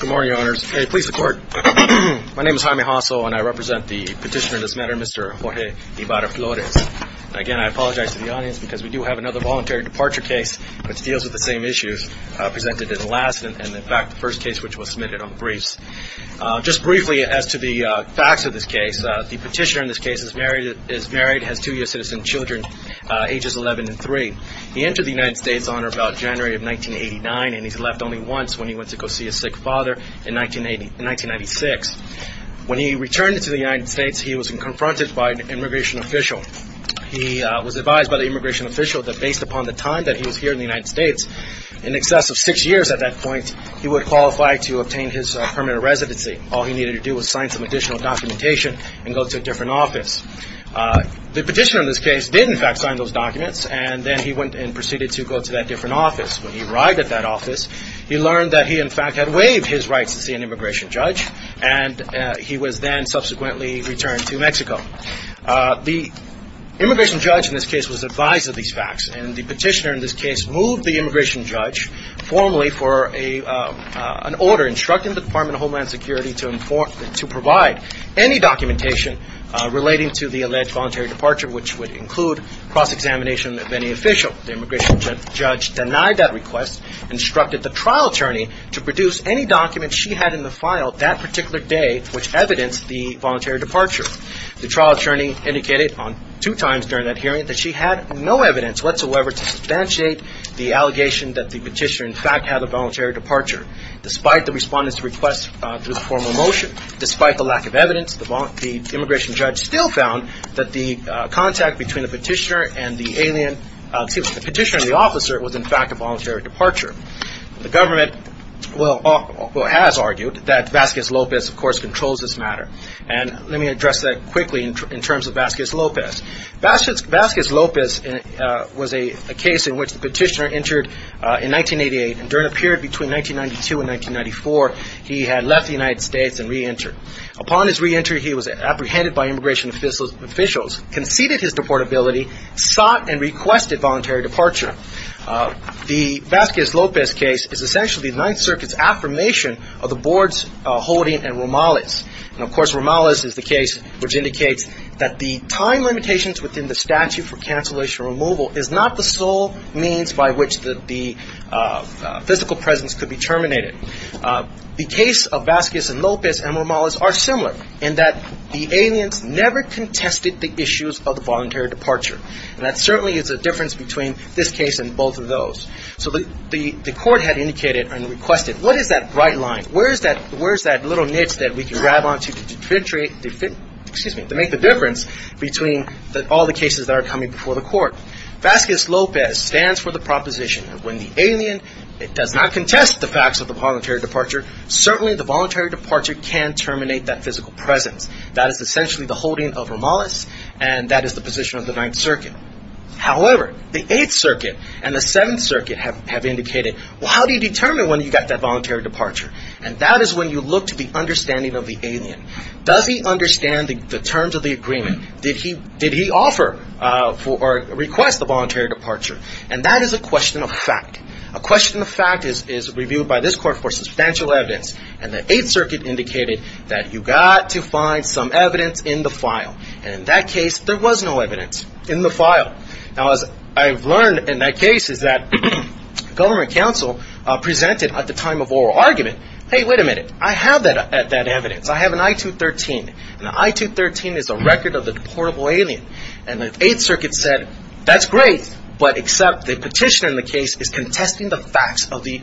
Good morning, Your Honors. Police to court. My name is Jaime Hasso and I represent the petitioner in this matter, Mr. Jorge Ibarra-Flores. Again, I apologize to the audience because we do have another voluntary departure case which deals with the same issues presented in the last and in fact the first case which was submitted on the briefs. Just briefly as to the facts of this case, the petitioner in this case is married, has two U.S. citizen children, ages 11 and 3. He entered the United States on or about January of 1989 and he's left only once when he went to go see his sick father in 1996. When he returned to the United States, he was confronted by an immigration official. He was advised by the immigration official that based upon the time that he was here in the United States, in excess of six years at that point, he would qualify to obtain his permanent residency. All he needed to do was sign some additional documentation and go to a different office. The petitioner in this case did in fact sign those documents and then he went and proceeded to go to that different office. When he arrived at that office, he learned that he in fact had waived his rights to see an immigration judge and he was then subsequently returned to Mexico. The immigration judge in this case was advised of these facts and the petitioner in this case moved the immigration judge formally for an order instructing the Department of Homeland Security to provide any documentation relating to the alleged voluntary departure which would include cross-examination of any official. The immigration judge denied that request, instructed the trial attorney to produce any documents she had in the file that particular day which evidenced the voluntary departure. The trial attorney indicated two times during that hearing that she had no evidence whatsoever to substantiate the allegation that the petitioner in fact had a voluntary departure. Despite the respondent's request for the formal motion, despite the lack of evidence, the immigration judge still found that the contact between the petitioner and the officer was in fact a voluntary departure. The government has argued that Vasquez Lopez of course controls this matter and let me address that quickly in terms of Vasquez Lopez. Vasquez Lopez was a case in which the petitioner entered in 1988 and during a period between 1992 and 1994, he had left the United States and re-entered. Upon his re-entry, he was apprehended by immigration officials, conceded his deportability, sought and requested voluntary departure. The Vasquez Lopez case is essentially the Ninth Circuit's affirmation of the board's holding and Romales. And of course, Romales is the case which indicates that the time limitations within the statute for cancellation removal is not the sole means by which the physical presence could be terminated. The case of Vasquez and Lopez and Romales are similar in that the aliens never contested the issues of the voluntary departure. And that certainly is a difference between this case and both of those. So the court had indicated and requested, what is that bright line? Where is that little niche that we can grab onto to make the difference between all the cases that are coming before the court? Vasquez Lopez stands for the proposition that when the alien does not contest the facts of the voluntary departure, certainly the voluntary departure can terminate that physical presence. That is essentially the holding of Romales and that is the position of the Ninth Circuit. However, the Eighth Circuit and the Seventh Circuit have indicated, well, how do you determine when you got that voluntary departure? And that is when you look to the understanding of the alien. Does he understand the terms of the agreement? Did he offer or request the voluntary departure? And that is a question of fact. A question of fact is reviewed by this court for substantial evidence and the Eighth Circuit indicated that you got to find some evidence in the file. And in that case, there was no evidence in the file. Now, as I have learned in that case is that government counsel presented at the time of oral argument, hey, wait a minute, I have that evidence. I have an I-213. An I-213 is a record of the deportable alien. And the Eighth Circuit said, that is great, but except the petitioner in the case is contesting the facts of the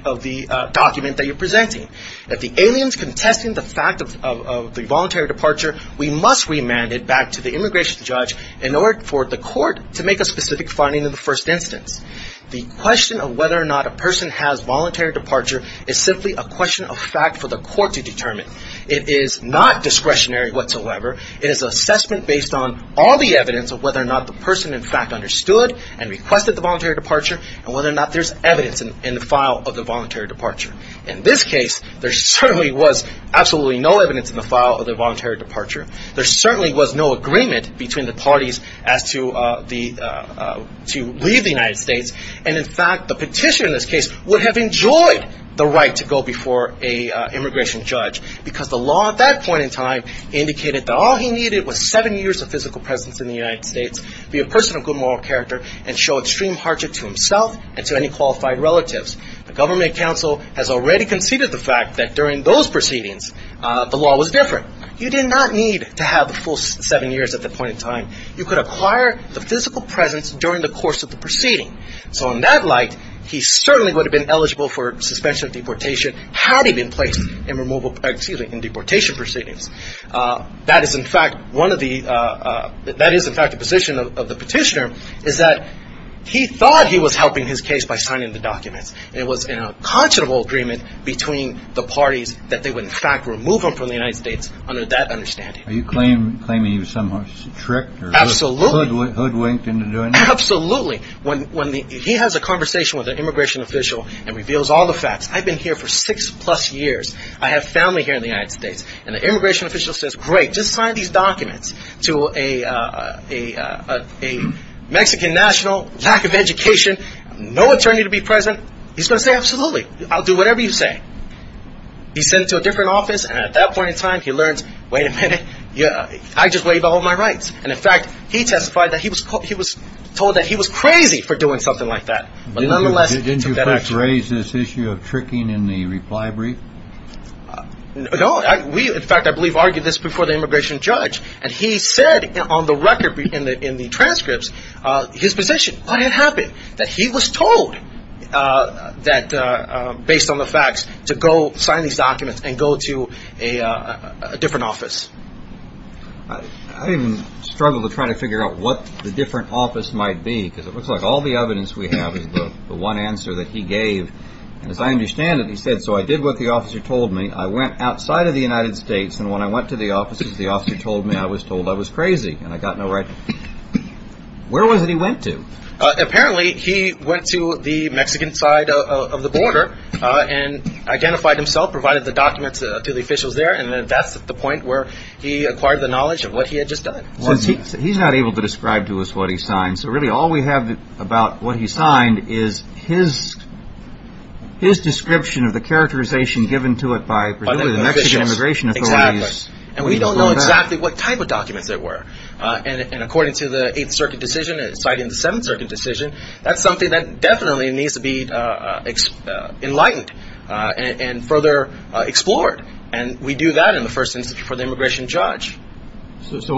document that you are presenting. If the alien is contesting the fact of the voluntary departure, we must remand it back to the immigration judge in order for the court to make a specific finding in the first instance. The question of whether or not a person has voluntary departure is simply a question of fact for the court to determine. It is not discretionary whatsoever. It is an assessment based on all the evidence of whether or not the person in fact understood and requested the voluntary departure and whether or not there is evidence in the file of the voluntary departure. In this case, there certainly was absolutely no evidence in the file of the voluntary departure. There certainly was no agreement between the parties as to leave the United States. And in fact, the petitioner in this case would have enjoyed the right to go before an immigration judge because the law at that point in time indicated that all he needed was seven years of physical presence in the United States, be a person of good moral character, and show extreme hardship to himself and to any qualified relatives. The government counsel has already conceded the fact that during those proceedings, the law was different. You did not need to have the full seven years at that point in time. You could acquire the physical presence during the course of the proceeding. So in that light, he certainly would have been eligible for suspension of deportation had he been placed in removal – excuse me, in deportation proceedings. That is in fact one of the – that is in fact the position of the petitioner is that he thought he was helping his case by signing the documents. It was in a considerable agreement between the parties that they would in fact remove him from the United States under that understanding. Are you claiming he was somehow tricked or – Absolutely. Hoodwinked into doing it? Absolutely. When the – he has a conversation with an immigration official and reveals all the facts. I've been here for six-plus years. I have family here in the United States. And the immigration official says, great, just sign these documents to a Mexican national, lack of education, no attorney to be present. He's going to say, absolutely, I'll do whatever you say. He's sent to a different office, and at that point in time, he learns, wait a minute, I just waived all of my rights. And in fact, he testified that he was told that he was crazy for doing something like that. But nonetheless, it took that action. Didn't you first raise this issue of tricking in the reply brief? No. In fact, I believe we argued this before the immigration judge. And he said on the record in the transcripts his position. What had happened? That he was told that based on the facts to go sign these documents and go to a different office. I even struggle to try to figure out what the different office might be because it looks like all the evidence we have is the one answer that he gave. As I understand it, he said, so I did what the officer told me. I went outside of the United States. And when I went to the offices, the officer told me I was told I was crazy. And I got no right. Where was it he went to? Apparently, he went to the Mexican side of the border and identified himself, provided the documents to the officials there. And that's the point where he acquired the knowledge of what he had just done. He's not able to describe to us what he signed. And so really all we have about what he signed is his description of the characterization given to it by the Mexican immigration authorities. And we don't know exactly what type of documents there were. And according to the Eighth Circuit decision, citing the Seventh Circuit decision, that's something that definitely needs to be enlightened and further explored. And we do that in the first instance before the immigration judge. So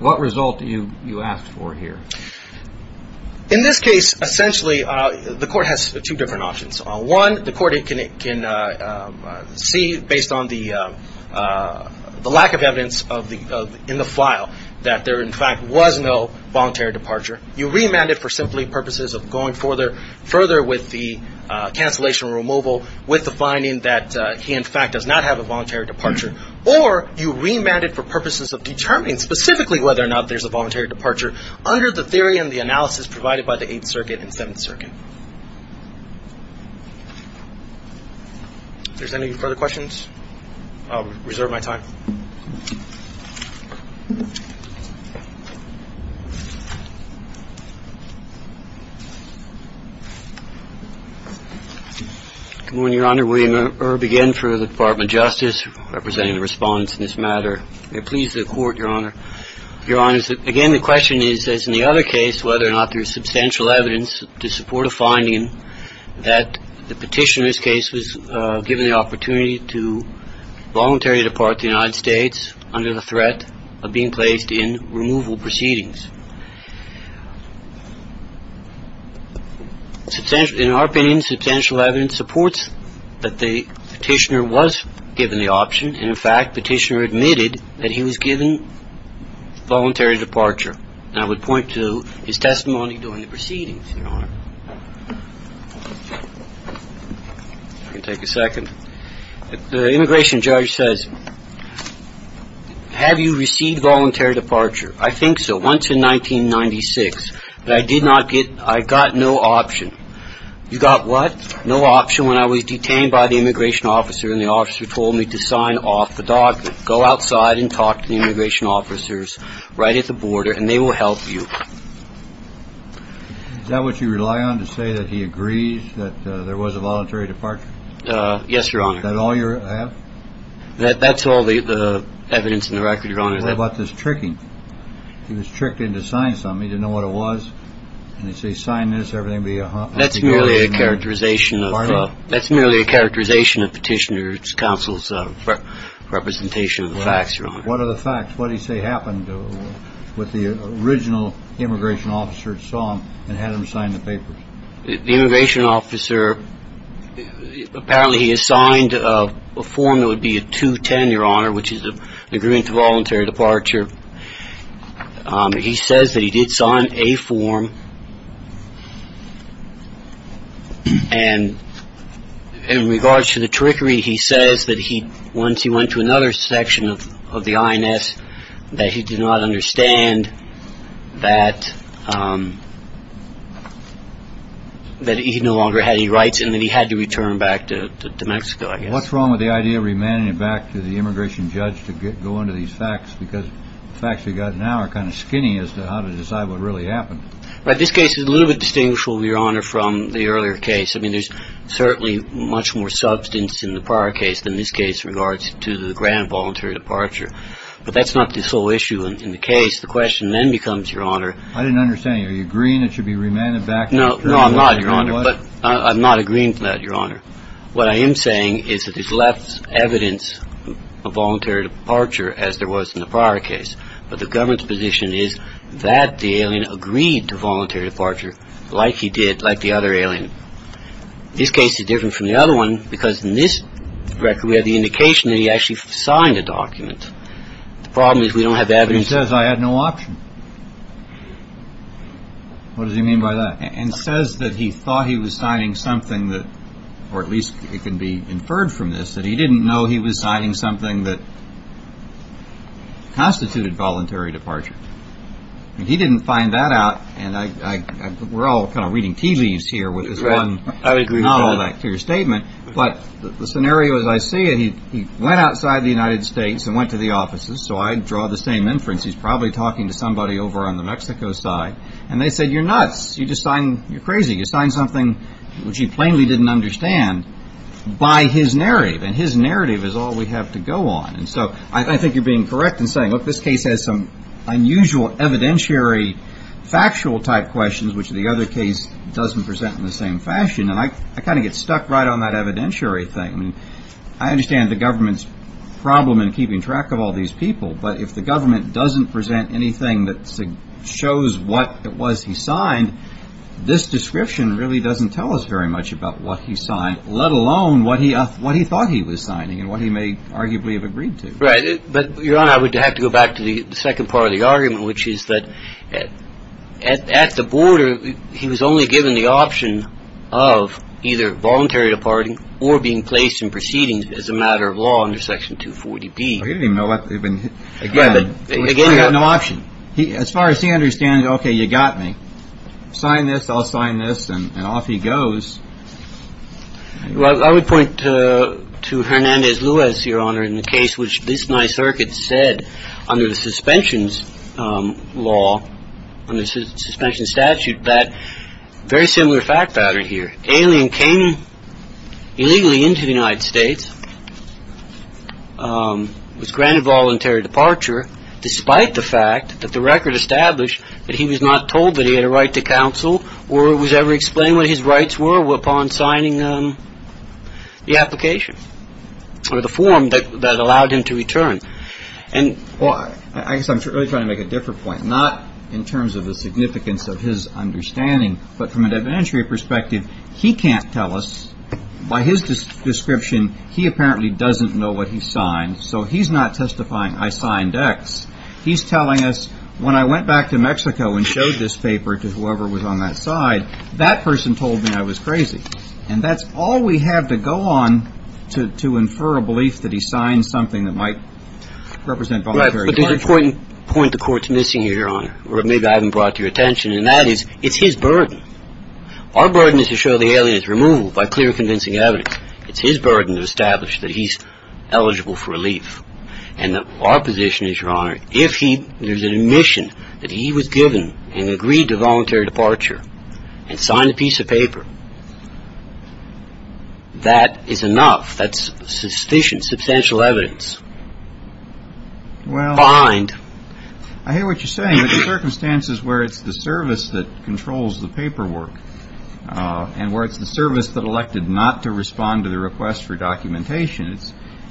what result do you ask for here? In this case, essentially, the court has two different options. One, the court can see, based on the lack of evidence in the file, that there, in fact, was no voluntary departure. You remanded for simply purposes of going further with the cancellation or removal with the finding that he, in fact, does not have a voluntary departure. Or you remanded for purposes of determining specifically whether or not there's a voluntary departure under the theory and the analysis provided by the Eighth Circuit and Seventh Circuit. If there's any further questions, I'll reserve my time. Thank you. Good morning, Your Honor. William Irb again for the Department of Justice, representing the respondents in this matter. May it please the Court, Your Honor. Your Honor, again, the question is, as in the other case, whether or not there's substantial evidence to support a finding that the petitioner's under the threat of being placed in removal proceedings. In our opinion, substantial evidence supports that the petitioner was given the option. And, in fact, the petitioner admitted that he was given voluntary departure. And I would point to his testimony during the proceedings, Your Honor. If I can take a second. The immigration judge says, have you received voluntary departure? I think so. Once in 1996. But I did not get, I got no option. You got what? No option when I was detained by the immigration officer and the officer told me to sign off the document. Go outside and talk to the immigration officers right at the border and they will help you. Is that what you rely on to say that he agrees that there was a voluntary departure? Yes, Your Honor. Is that all you have? That's all the evidence in the record, Your Honor. What about this tricking? He was tricked into signing something. He didn't know what it was. And they say, sign this, everything will be fine. That's merely a characterization. That's merely a characterization of petitioner's counsel's representation of the facts, Your Honor. What are the facts? What do you say happened with the original immigration officer that saw him and had him sign the papers? The immigration officer, apparently he assigned a form that would be a 210, Your Honor, which is an agreement to voluntary departure. He says that he did sign a form. And in regards to the trickery, he says that he once he went to another section of the INS, that he did not understand that he no longer had any rights and that he had to return back to Mexico, I guess. What's wrong with the idea of remanding it back to the immigration judge to go into these facts? Because the facts we've got now are kind of skinny as to how to decide what really happened. Right. This case is a little bit distinguishable, Your Honor, from the earlier case. I mean, there's certainly much more substance in the prior case than this case in regards to the grand voluntary departure. But that's not the sole issue in the case. The question then becomes, Your Honor. I didn't understand. Are you agreeing it should be remanded back? No. No, I'm not, Your Honor. But I'm not agreeing to that, Your Honor. What I am saying is that there's less evidence of voluntary departure as there was in the prior case. But the government's position is that the alien agreed to voluntary departure like he did, like the other alien. This case is different from the other one because in this record we have the indication that he actually signed a document. The problem is we don't have evidence. He says, I had no option. What does he mean by that? And says that he thought he was signing something that, or at least it can be inferred from this, that he didn't know he was signing something that constituted voluntary departure. And he didn't find that out. And we're all kind of reading tea leaves here with this one non-bacterial statement. But the scenario as I see it, he went outside the United States and went to the offices. So I draw the same inference. He's probably talking to somebody over on the Mexico side. And they said, You're nuts. You're crazy. You signed something which he plainly didn't understand by his narrative. And his narrative is all we have to go on. And so I think you're being correct in saying, look, this case has some unusual evidentiary factual type questions, which the other case doesn't present in the same fashion. And I kind of get stuck right on that evidentiary thing. I mean, I understand the government's problem in keeping track of all these people. But if the government doesn't present anything that shows what it was he signed, this description really doesn't tell us very much about what he signed, let alone what he thought he was signing and what he may arguably have agreed to. Right. But, Your Honor, I would have to go back to the second part of the argument, which is that at the border, he was only given the option of either voluntary departing or being placed in proceedings as a matter of law under Section 240B. He didn't even know what they had been. Again, he had no option. As far as he understands, OK, you got me. Sign this. I'll sign this. And off he goes. Well, I would point to Hernandez Lewis, Your Honor, in the case, which this my circuit said under the suspensions law, under suspension statute, very similar fact pattern here. Alien came illegally into the United States, was granted voluntary departure despite the fact that the record established that he was not told that he had a right to counsel or was ever explained what his rights were upon signing the application or the form that allowed him to return. Well, I guess I'm really trying to make a different point, not in terms of the significance of his understanding, but from an evidentiary perspective, he can't tell us. By his description, he apparently doesn't know what he signed. So he's not testifying I signed X. He's telling us when I went back to Mexico and showed this paper to whoever was on that side, that person told me I was crazy. And that's all we have to go on to infer a belief that he signed something that might represent voluntary departure. But there's an important point the court's missing here, Your Honor, or maybe I haven't brought to your attention, and that is, it's his burden. Our burden is to show the alien's removal by clear and convincing evidence. It's his burden to establish that he's eligible for relief. And our position is, Your Honor, if there's an admission that he was given and agreed to voluntary departure and signed a piece of paper, that is enough. That's sufficient, substantial evidence. Well. Behind. I hear what you're saying, but the circumstances where it's the service that controls the paperwork and where it's the service that elected not to respond to the request for documentation,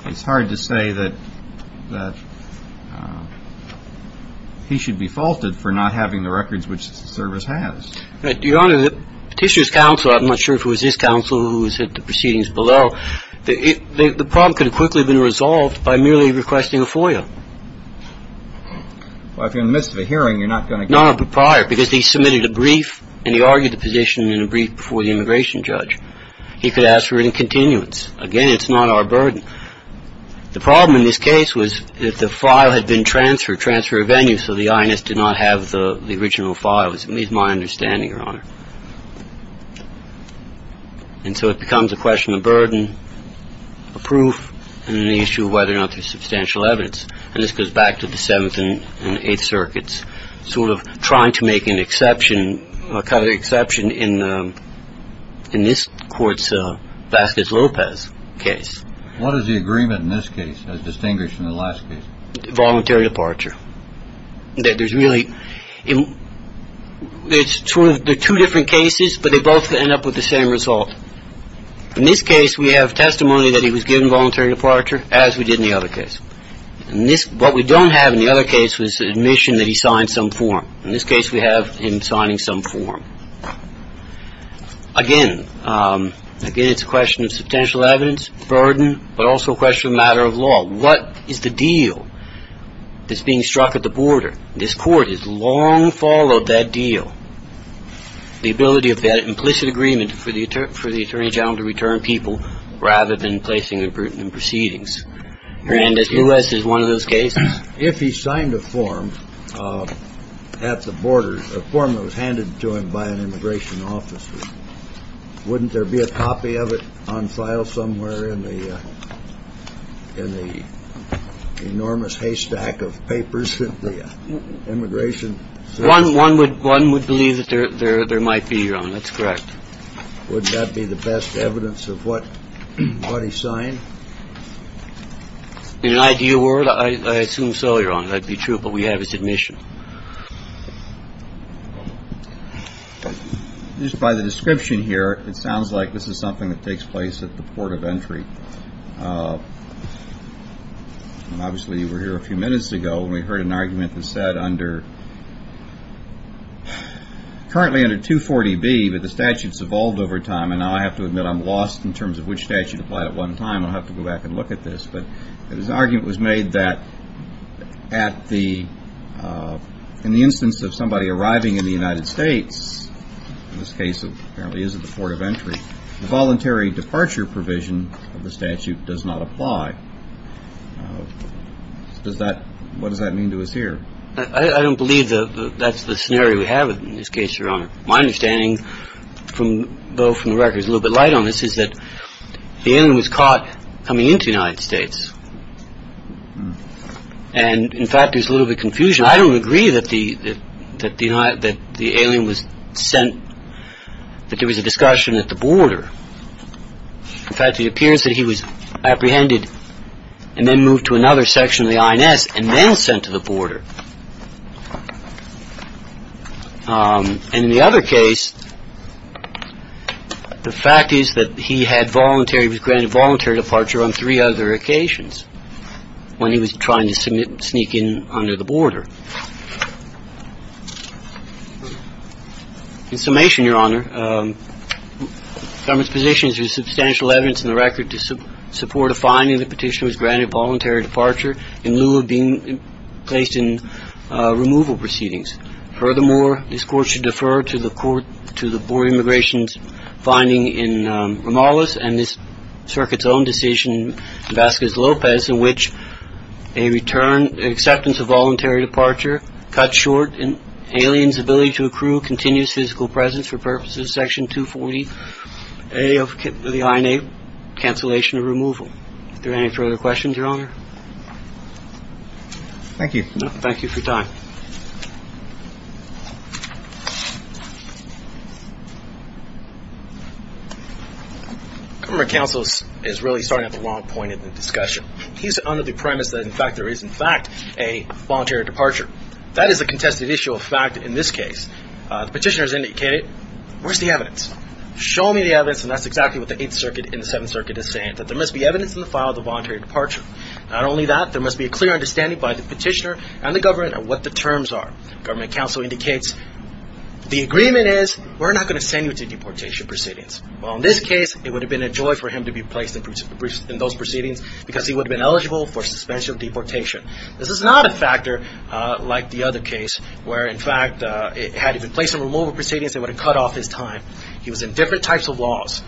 it's hard to say that he should be faulted for not having the records which the service has. Your Honor, the petitioner's counsel, I'm not sure if it was his counsel who was at the proceedings below, the problem could have quickly been resolved by merely requesting a FOIA. Well, if you're in the midst of a hearing, you're not going to get a FOIA. No, not prior, because he submitted a brief and he argued the petition in a brief before the immigration judge. He could ask for it in continuance. Again, it's not our burden. The problem in this case was if the file had been transferred, transferred venue, so the INS did not have the original file, at least my understanding, Your Honor. And so it becomes a question of burden, of proof, and then the issue of whether or not there's substantial evidence. And this goes back to the Seventh and Eighth Circuits, sort of trying to make an exception, a kind of exception in this court's Vasquez-Lopez case. What is the agreement in this case as distinguished from the last case? Voluntary departure. There's really two different cases, but they both end up with the same result. In this case, we have testimony that he was given voluntary departure, as we did in the other case. What we don't have in the other case was admission that he signed some form. In this case, we have him signing some form. Again, it's a question of substantial evidence, burden, but also a question of matter of law. What is the deal that's being struck at the border? This court has long followed that deal, the ability of that implicit agreement for the Attorney General to return people rather than placing them in proceedings. Hernandez-Luez is one of those cases. If he signed a form at the border, a form that was handed to him by an immigration officer, wouldn't there be a copy of it on file somewhere in the enormous haystack of papers that the immigration? One would believe that there might be, Your Honor. That's correct. Wouldn't that be the best evidence of what he signed? In an ideal world, I assume so, Your Honor. That'd be true. But we have his admission. Just by the description here, it sounds like this is something that takes place at the port of entry. Obviously, you were here a few minutes ago, and we heard an argument that said currently under 240B, but the statute's evolved over time, and now I have to admit I'm lost in terms of which statute applied at one time. I'll have to go back and look at this. But his argument was made that in the instance of somebody arriving in the United States, in this case it apparently is at the port of entry, the voluntary departure provision of the statute does not apply. What does that mean to us here? I don't believe that's the scenario we have in this case, Your Honor. My understanding, though, from the record is a little bit light on this, is that the alien was caught coming into the United States, and in fact there's a little bit of confusion. I don't agree that the alien was sent, that there was a discussion at the border. In fact, it appears that he was apprehended and then moved to another section of the INS and then sent to the border. And in the other case, the fact is that he had voluntary, he was granted voluntary departure on three other occasions when he was trying to sneak in under the border. In summation, Your Honor, the government's position is there's substantial evidence in the record to support a finding that the petitioner was granted voluntary departure in lieu of being placed in removal proceedings. Furthermore, this Court should defer to the Board of Immigration's finding in Romales and this Circuit's own decision in Vasquez-Lopez in which a return, acceptance of voluntary departure cut short an alien's ability to accrue continuous physical presence for purposes of Section 240A of the INA, cancellation of removal. Is there any further questions, Your Honor? Thank you. Thank you for your time. Government counsel is really starting at the wrong point in the discussion. He's under the premise that in fact there is, in fact, a voluntary departure. That is a contested issue of fact in this case. The petitioner has indicated, where's the evidence? Show me the evidence and that's exactly what the Eighth Circuit and the Seventh Circuit is saying, that there must be evidence in the file of the voluntary departure. Not only that, there must be a clear understanding by the petitioner and the government of what the terms are. Government counsel indicates the agreement is we're not going to send you to deportation proceedings. Well, in this case, it would have been a joy for him to be placed in those proceedings because he would have been eligible for suspension of deportation. This is not a factor like the other case where, in fact, had he been placed in removal proceedings, they would have cut off his time. He was in different types of laws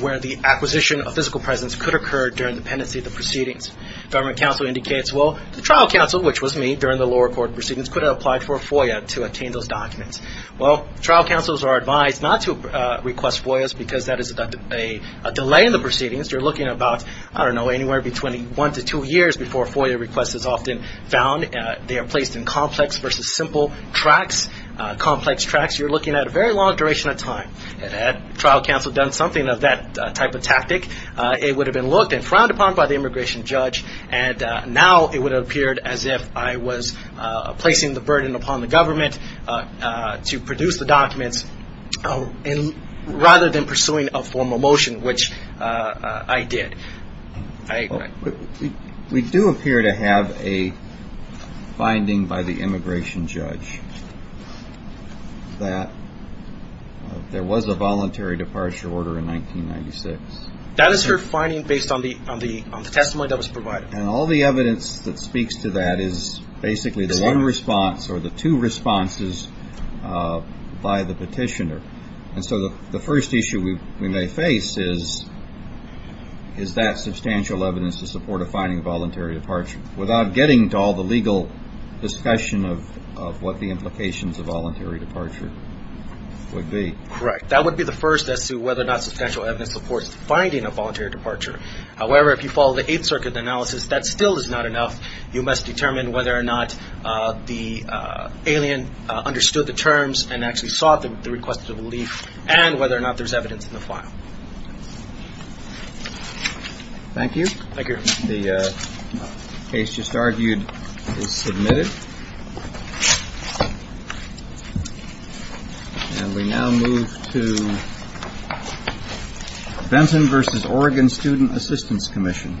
where the acquisition of physical presence could occur during the pendency of the proceedings. Government counsel indicates, well, the trial counsel, which was me during the lower court proceedings, could have applied for a FOIA to obtain those documents. Well, trial counsels are advised not to request FOIAs because that is a delay in the proceedings. You're looking about, I don't know, anywhere between one to two years before a FOIA request is often found. They are placed in complex versus simple tracts, complex tracts. You're looking at a very long duration of time. Had trial counsel done something of that type of tactic, it would have been looked and frowned upon by the immigration judge. And now it would have appeared as if I was placing the burden upon the government to produce the documents rather than pursuing a formal motion, which I did. We do appear to have a finding by the immigration judge that there was a voluntary departure order in 1996. That is her finding based on the testimony that was provided. And all the evidence that speaks to that is basically the one response or the two responses by the petitioner. And so the first issue we may face is that substantial evidence to support a finding of voluntary departure without getting to all the legal discussion of what the implications of voluntary departure would be. Correct. That would be the first as to whether or not substantial evidence supports finding a voluntary departure. However, if you follow the Eighth Circuit analysis, that still is not enough. You must determine whether or not the alien understood the terms and actually sought the request of relief and whether or not there's evidence in the file. Thank you. Thank you. The case just argued is submitted. And we now move to Benton versus Oregon Student Assistance Commission. Thank you.